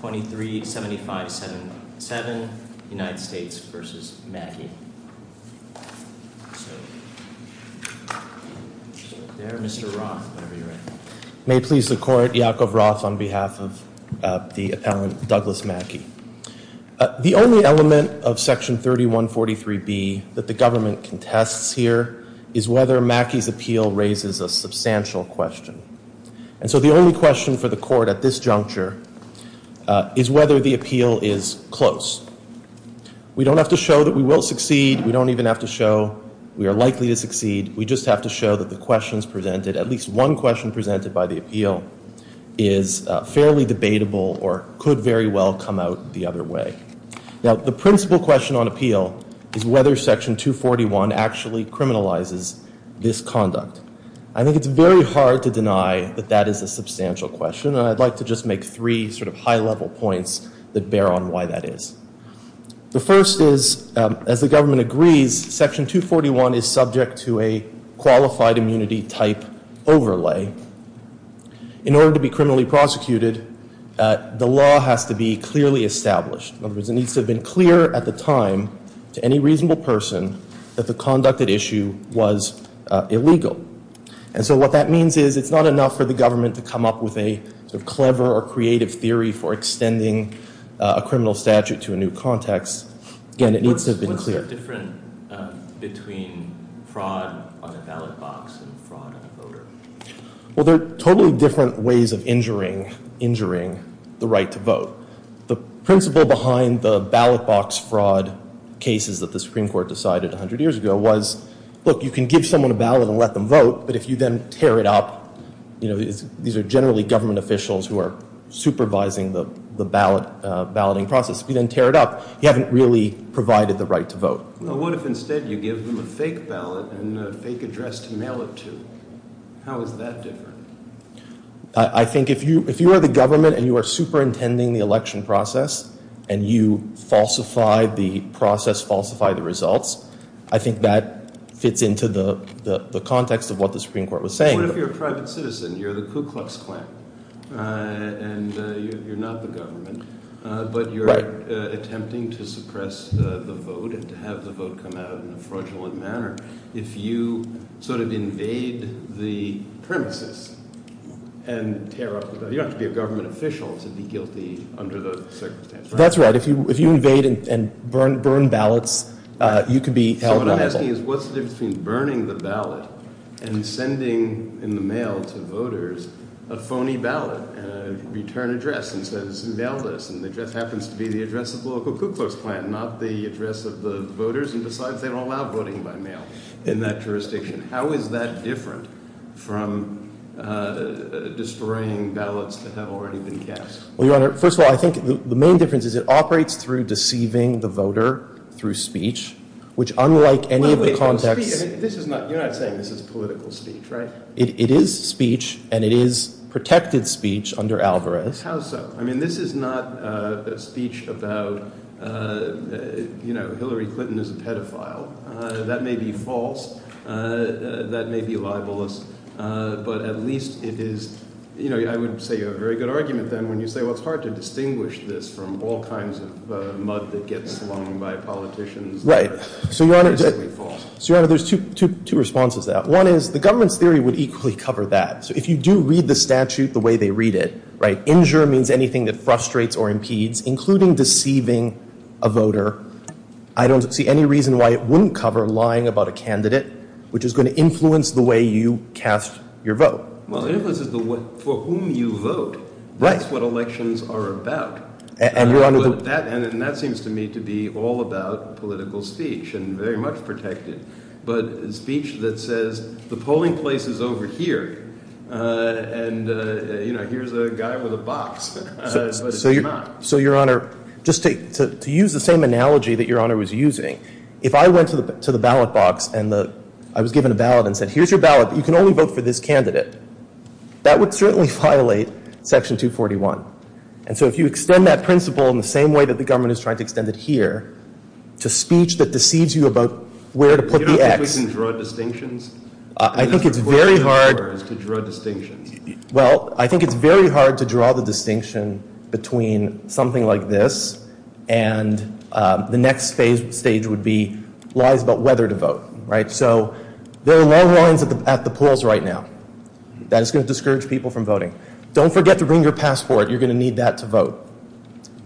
May it please the court, Yakov Roth on behalf of the appellant Douglas Mackey. The only element of section 3143B that the government contests here is whether Mackey's appeal raises a substantial question. And so the only question for the court at this juncture is whether the appeal is close. We don't have to show that we will succeed. We don't even have to show we are likely to succeed. We just have to show that the questions presented, at least one question presented by the appeal is fairly debatable or could very well come out the other way. Now the principal question on appeal is whether section 241 actually criminalizes this conduct. I think it's very hard to deny that that is a substantial question. And I'd like to just make three sort of high-level points that bear on why that is. The first is, as the government agrees, section 241 is subject to a qualified immunity type overlay. In order to be criminally prosecuted, the law has to be clearly established. In other words, it needs to have been clear at the time to any reasonable person that the conducted issue was illegal. And so what that means is it's not enough for the government to come up with a clever or creative theory for extending a criminal statute to a new context. Again, it needs to have been clear. What's the difference between fraud on the ballot box and fraud on a voter? Well, they're totally different ways of injuring the right to vote. The principle behind the ballot box fraud cases that the Supreme Court decided 100 years ago was, look, you can give someone a ballot and let them vote, but if you then tear it up, these are generally government officials who are supervising the balloting process. If you then tear it up, you haven't really provided the right to vote. What if instead you give them a fake ballot and a fake address to mail it to? How is that different? I think if you are the government and you are superintending the election process and you falsify the process, falsify the results, I think that fits into the context of what the Supreme Court was saying. What if you're a private citizen? You're the Ku Klux Klan and you're not the government. But you're attempting to suppress the vote and to have the vote come out in a fraudulent manner. If you sort of invade the premises and tear up the ballot, you don't have to be a government official to be guilty under those circumstances. That's right. If you invade and burn ballots, you could be held liable. So what I'm asking is what's the difference between burning the ballot and sending in the mail to voters a phony ballot, a return address that says mail this, and the address happens to be the address of the local Ku Klux Klan, not the address of the voters, and besides, they don't allow voting by mail in that jurisdiction. How is that different from destroying ballots that have already been cast? Well, Your Honor, first of all, I think the main difference is it operates through deceiving the voter through speech, which unlike any of the context- This is not, you're not saying this is political speech, right? It is speech, and it is protected speech under Alvarez. How so? I mean, this is not a speech about Hillary Clinton is a pedophile. That may be false, that may be libelous, but at least it is, I would say a very good argument then when you say, well, it's hard to distinguish this from all kinds of mud that gets slung by politicians. Right. So, Your Honor, there's two responses to that. One is the government's theory would equally cover that. So if you do read the statute the way they read it, right? It's anything that frustrates or impedes, including deceiving a voter. I don't see any reason why it wouldn't cover lying about a candidate, which is going to influence the way you cast your vote. Well, it influences the way, for whom you vote. Right. That's what elections are about. And Your Honor, that, and that seems to me to be all about political speech, and very much protected. But speech that says, the polling place is over here, and here's a guy with a box, but it's not. So, Your Honor, just to use the same analogy that Your Honor was using, if I went to the ballot box and I was given a ballot and said, here's your ballot, but you can only vote for this candidate, that would certainly violate Section 241. And so, if you extend that principle in the same way that the government is trying to extend it here, to speech that deceives you about where to put the X, I think it's very hard, well, I think it's very hard to draw the distinction between something like this, and the next stage would be lies about whether to vote, right? So, there are long lines at the polls right now. That is going to discourage people from voting. Don't forget to bring your passport. You're going to need that to vote.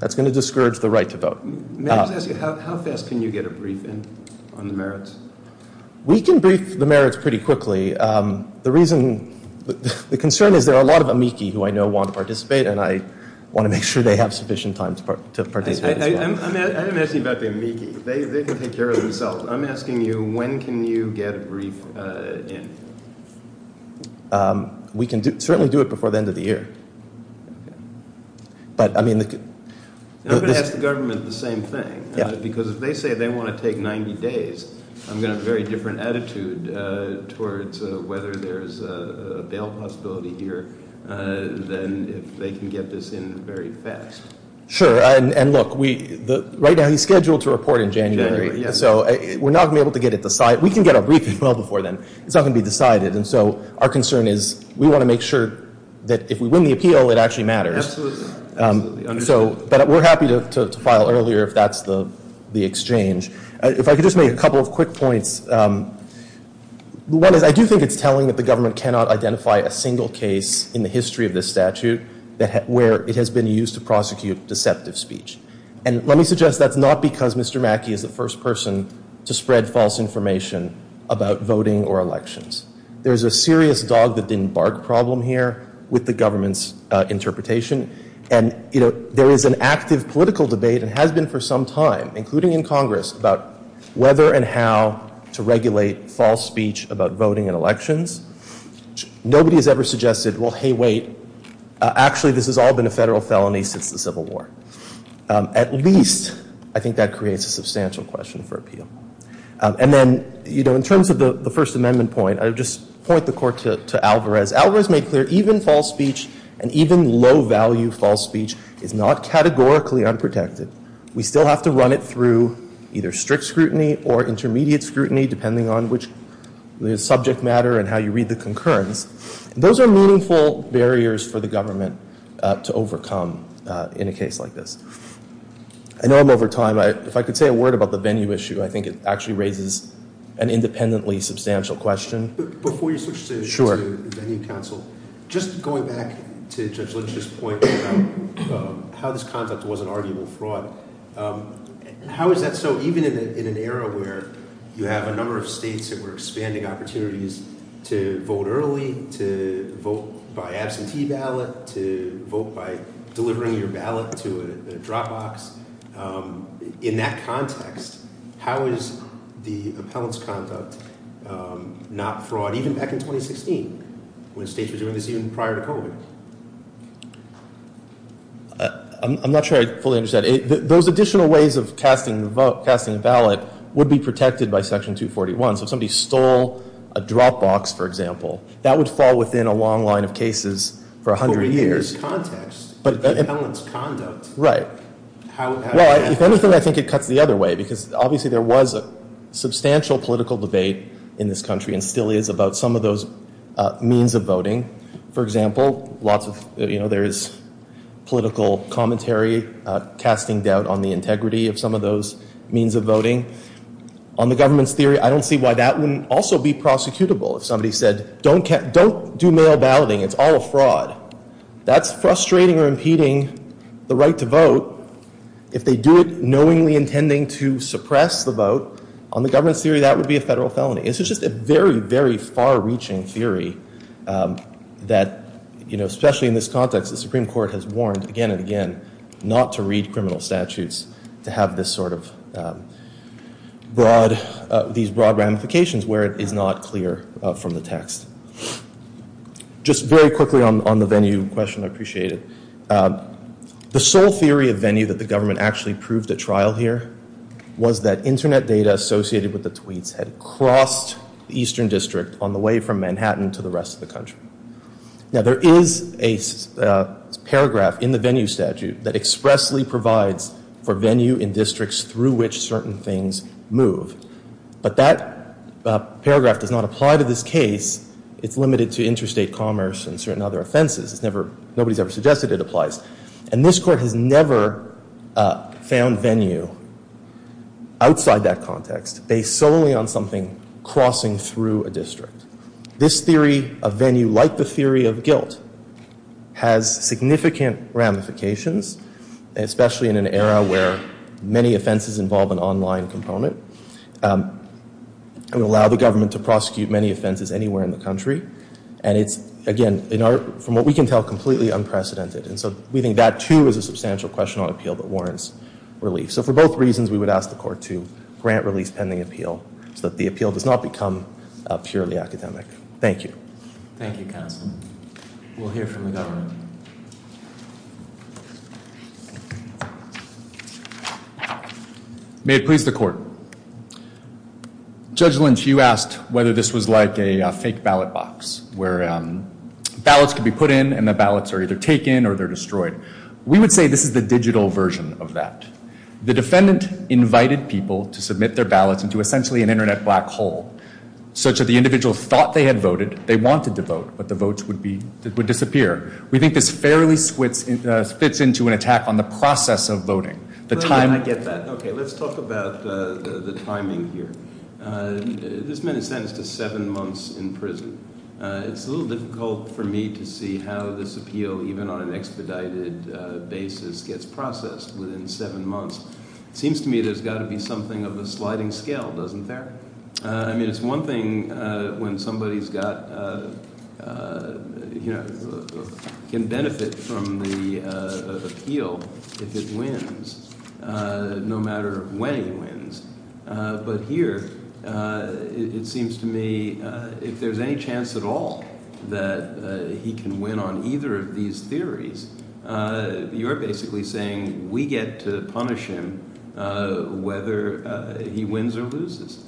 That's going to discourage the right to vote. May I just ask you, how fast can you get a brief in on the merits? We can brief the merits pretty quickly. The reason, the concern is there are a lot of amici who I know want to participate, and I want to make sure they have sufficient time to participate as well. I'm asking about the amici. They can take care of themselves. I'm asking you, when can you get a brief in? We can certainly do it before the end of the year. I'm going to ask the government the same thing, because if they say they want to take 90 days, I'm going to have a very different attitude towards whether there's a bail possibility here than if they can get this in very fast. Sure, and look, right now he's scheduled to report in January, so we're not going to be able to get it decided. We can get a brief in well before then. But it's not going to be decided, and so our concern is we want to make sure that if we win the appeal, it actually matters. Absolutely, absolutely. But we're happy to file earlier if that's the exchange. If I could just make a couple of quick points. One is I do think it's telling that the government cannot identify a single case in the history of this statute where it has been used to prosecute deceptive speech. And let me suggest that's not because Mr. Mackey is the first person to spread false information about voting or elections. There's a serious dog-that-didn't-bark problem here with the government's interpretation. And there is an active political debate and has been for some time, including in Congress, about whether and how to regulate false speech about voting and elections. Nobody has ever suggested, well, hey, wait, actually this has all been a federal felony since the Civil War. At least I think that creates a substantial question for appeal. And then, you know, in terms of the First Amendment point, I would just point the court to Alvarez. Alvarez made clear even false speech and even low-value false speech is not categorically unprotected. We still have to run it through either strict scrutiny or intermediate scrutiny depending on which the subject matter and how you read the concurrence. Those are meaningful barriers for the government to overcome in a case like this. I know I'm over time. If I could say a word about the venue issue, I think it actually raises an independently substantial question. Before you switch to venue counsel, just going back to Judge Lynch's point about how this conduct was an arguable fraud, how is that so even in an era where you have a number of states that were expanding opportunities to vote early, to vote by absentee ballot, to vote by delivering your ballot to a drop box, in that context, how is the appellant's conduct not fraud even back in 2016 when states were doing this even prior to COVID? I'm not sure I fully understand. Those additional ways of casting a ballot would be protected by Section 241. So if somebody stole a drop box, for example, that would fall within a long line of cases for 100 years. If anything, I think it cuts the other way because obviously there was a substantial political debate in this country and still is about some of those means of voting. For example, there is political commentary casting doubt on the integrity of some of those means of voting. On the government's theory, I don't see why that wouldn't also be prosecutable. If somebody said, don't do mail balloting, it's all a fraud, that's frustrating or impeding the right to vote. If they do it knowingly intending to suppress the vote, on the government's theory, that would be a federal felony. It's just a very, very far-reaching theory that, you know, especially in this context, the Supreme Court has warned again and again not to read criminal statutes to have this sort of broad, these broad ramifications where it is not clear from the text. Just very quickly on the venue question, I appreciate it. The sole theory of venue that the government actually proved at trial here was that Internet data associated with the tweets had crossed the Eastern District on the way from Manhattan to the rest of the country. Now, there is a paragraph in the venue statute that expressly provides for venue in districts through which certain things move. But that paragraph does not apply to this case. It's limited to interstate commerce and certain other offenses. It's never, nobody's ever suggested it applies. And this Court has never found venue outside that context based solely on something crossing through a district. This theory of venue, like the theory of guilt, has significant ramifications, especially in an era where many offenses involve an online component. It would allow the government to prosecute many offenses anywhere in the country. And it's, again, in our, from what we can tell, completely unprecedented. And so we think that, too, is a substantial question on appeal that warrants relief. So for both reasons, we would ask the Court to grant release pending appeal so that the appeal does not become purely academic. Thank you. Thank you, Counsel. We'll hear from the government. May it please the Court. Judge Lynch, you asked whether this was like a fake ballot box where ballots can be put in and the ballots are either taken or they're destroyed. We would say this is the digital version of that. The defendant invited people to submit their ballots into essentially an Internet black hole, such that the individual thought they had voted, they wanted to vote, but the votes would disappear. We think this fairly fits into an attack on the process of voting. I get that. Okay, let's talk about the timing here. This man is sentenced to seven months in prison. It's a little difficult for me to see how this appeal, even on an expedited basis, gets processed within seven months. It seems to me there's got to be something of a sliding scale, doesn't there? I mean, it's one thing when somebody's got, you know, can benefit from the appeal if it wins, no matter when he wins. But here it seems to me if there's any chance at all that he can win on either of these theories, you're basically saying we get to punish him whether he wins or loses.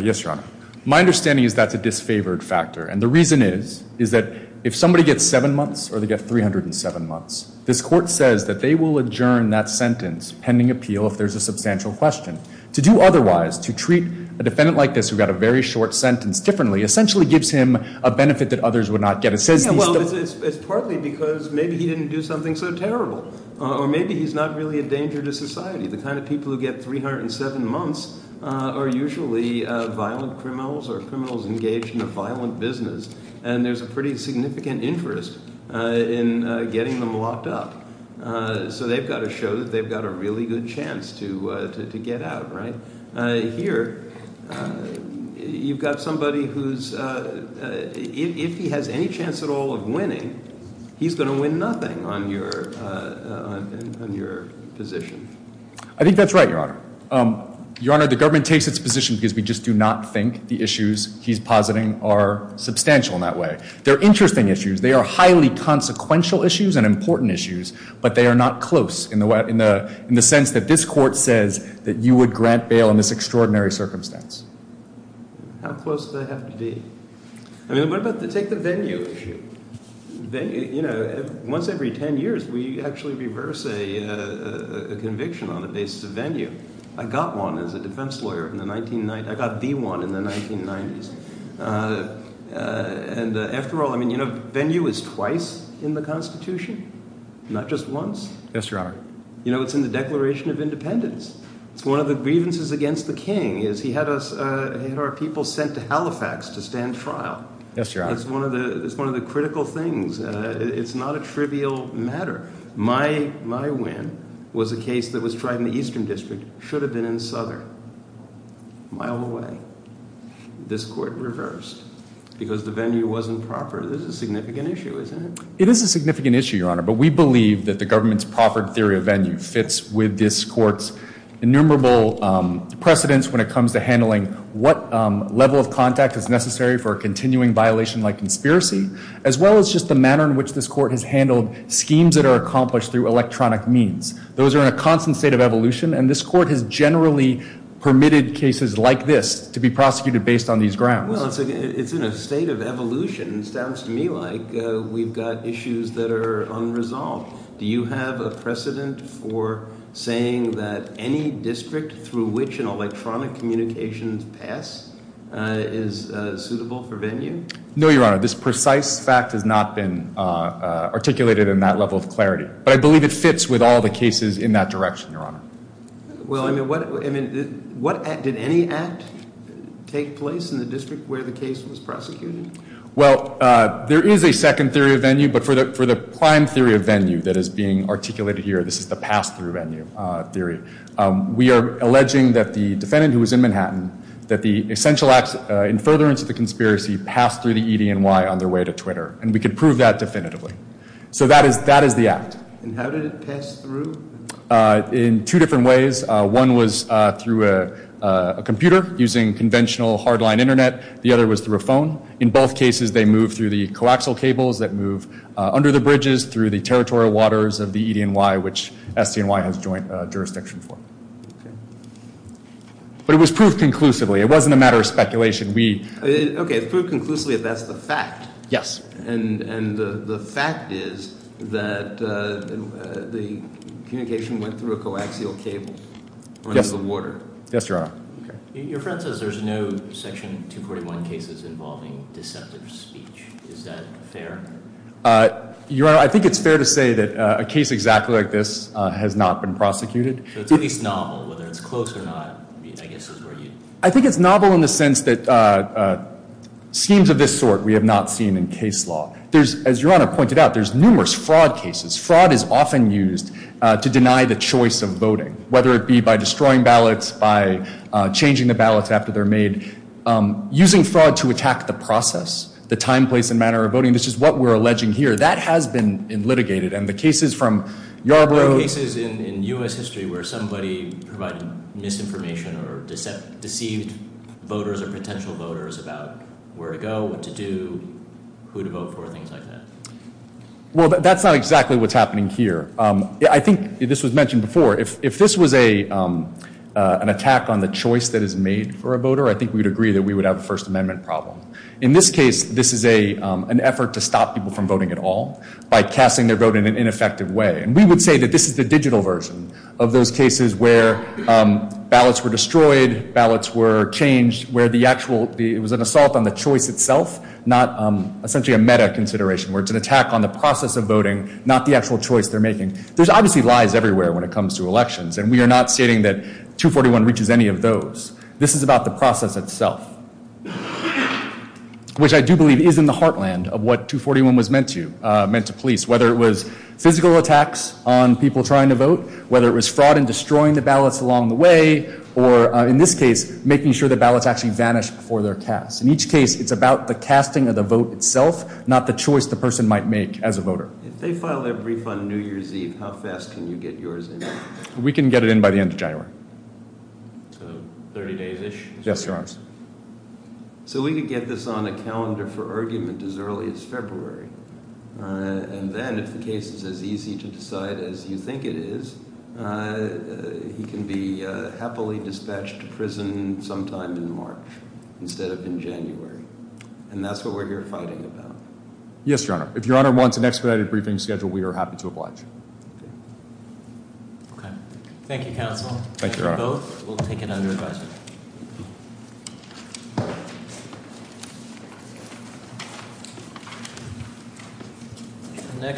Yes, Your Honor. My understanding is that's a disfavored factor, and the reason is, is that if somebody gets seven months or they get 307 months, this Court says that they will adjourn that sentence pending appeal if there's a substantial question. To do otherwise, to treat a defendant like this who got a very short sentence differently, essentially gives him a benefit that others would not get. Well, it's partly because maybe he didn't do something so terrible, or maybe he's not really a danger to society. The kind of people who get 307 months are usually violent criminals or criminals engaged in a violent business, and there's a pretty significant interest in getting them locked up. So they've got to show that they've got a really good chance to get out, right? Here you've got somebody who's, if he has any chance at all of winning, he's going to win nothing on your position. I think that's right, Your Honor. Your Honor, the government takes its position because we just do not think the issues he's positing are substantial in that way. They're interesting issues. They are highly consequential issues and important issues, but they are not close in the sense that this Court says that you would grant bail in this extraordinary circumstance. How close do they have to be? I mean, what about the take the venue issue? You know, once every 10 years, we actually reverse a conviction on the basis of venue. I got one as a defense lawyer in the 1990s. I got the one in the 1990s. And after all, I mean, you know, venue is twice in the Constitution, not just once. Yes, Your Honor. You know, it's in the Declaration of Independence. It's one of the grievances against the king is he had our people sent to Halifax to stand trial. Yes, Your Honor. It's one of the critical things. It's not a trivial matter. My win was a case that was tried in the Eastern District, should have been in Southern, a mile away. This Court reversed because the venue wasn't proper. This is a significant issue, isn't it? It is a significant issue, Your Honor. But we believe that the government's proffered theory of venue fits with this Court's innumerable precedents when it comes to handling what level of contact is necessary for a continuing violation like conspiracy, as well as just the manner in which this Court has handled schemes that are accomplished through electronic means. Those are in a constant state of evolution, and this Court has generally permitted cases like this to be prosecuted based on these grounds. Well, it's in a state of evolution. It sounds to me like we've got issues that are unresolved. Do you have a precedent for saying that any district through which an electronic communications pass is suitable for venue? No, Your Honor. This precise fact has not been articulated in that level of clarity. But I believe it fits with all the cases in that direction, Your Honor. Well, I mean, did any act take place in the district where the case was prosecuted? Well, there is a second theory of venue, but for the prime theory of venue that is being articulated here, this is the pass-through venue theory. We are alleging that the defendant who was in Manhattan, that the essential acts in furtherance of the conspiracy passed through the EDNY on their way to Twitter, and we could prove that definitively. So that is the act. And how did it pass through? In two different ways. One was through a computer using conventional hard-line Internet. The other was through a phone. In both cases, they moved through the coaxial cables that move under the bridges through the territorial waters of the EDNY, which SDNY has joint jurisdiction for. But it was proved conclusively. It wasn't a matter of speculation. Okay, it was proved conclusively that that's the fact. Yes. And the fact is that the communication went through a coaxial cable running through the water. Yes, Your Honor. Okay. Your friend says there's no Section 241 cases involving deceptive speech. Is that fair? Your Honor, I think it's fair to say that a case exactly like this has not been prosecuted. So it's at least novel, whether it's close or not, I guess is where you – I think it's novel in the sense that schemes of this sort we have not seen in case law. As Your Honor pointed out, there's numerous fraud cases. Fraud is often used to deny the choice of voting, whether it be by destroying ballots, by changing the ballots after they're made, using fraud to attack the process, the time, place, and manner of voting. This is what we're alleging here. That has been litigated. And the cases from Yarbrough – Are there cases in U.S. history where somebody provided misinformation or deceived voters or potential voters about where to go, what to do, who to vote for, things like that? Well, that's not exactly what's happening here. I think this was mentioned before. If this was an attack on the choice that is made for a voter, I think we would agree that we would have a First Amendment problem. In this case, this is an effort to stop people from voting at all by casting their vote in an ineffective way. And we would say that this is the digital version of those cases where ballots were destroyed, ballots were changed, where the actual – it was an assault on the choice itself, not essentially a meta-consideration where it's an attack on the process of voting, not the actual choice they're making. There's obviously lies everywhere when it comes to elections, and we are not stating that 241 reaches any of those. This is about the process itself, which I do believe is in the heartland of what 241 was meant to police, whether it was physical attacks on people trying to vote, whether it was fraud in destroying the ballots along the way, or in this case, making sure the ballots actually vanish before they're cast. In each case, it's about the casting of the vote itself, not the choice the person might make as a voter. If they file their brief on New Year's Eve, how fast can you get yours in? We can get it in by the end of January. So 30 days-ish? Yes, Your Honors. So we could get this on a calendar for argument as early as February, and then if the case is as easy to decide as you think it is, he can be happily dispatched to prison sometime in March instead of in January, and that's what we're here fighting about. Yes, Your Honor. If Your Honor wants an expedited briefing schedule, we are happy to oblige. Okay. Thank you, Counsel. Thank you, Your Honor. Thank you both. We'll take another advisory. Next.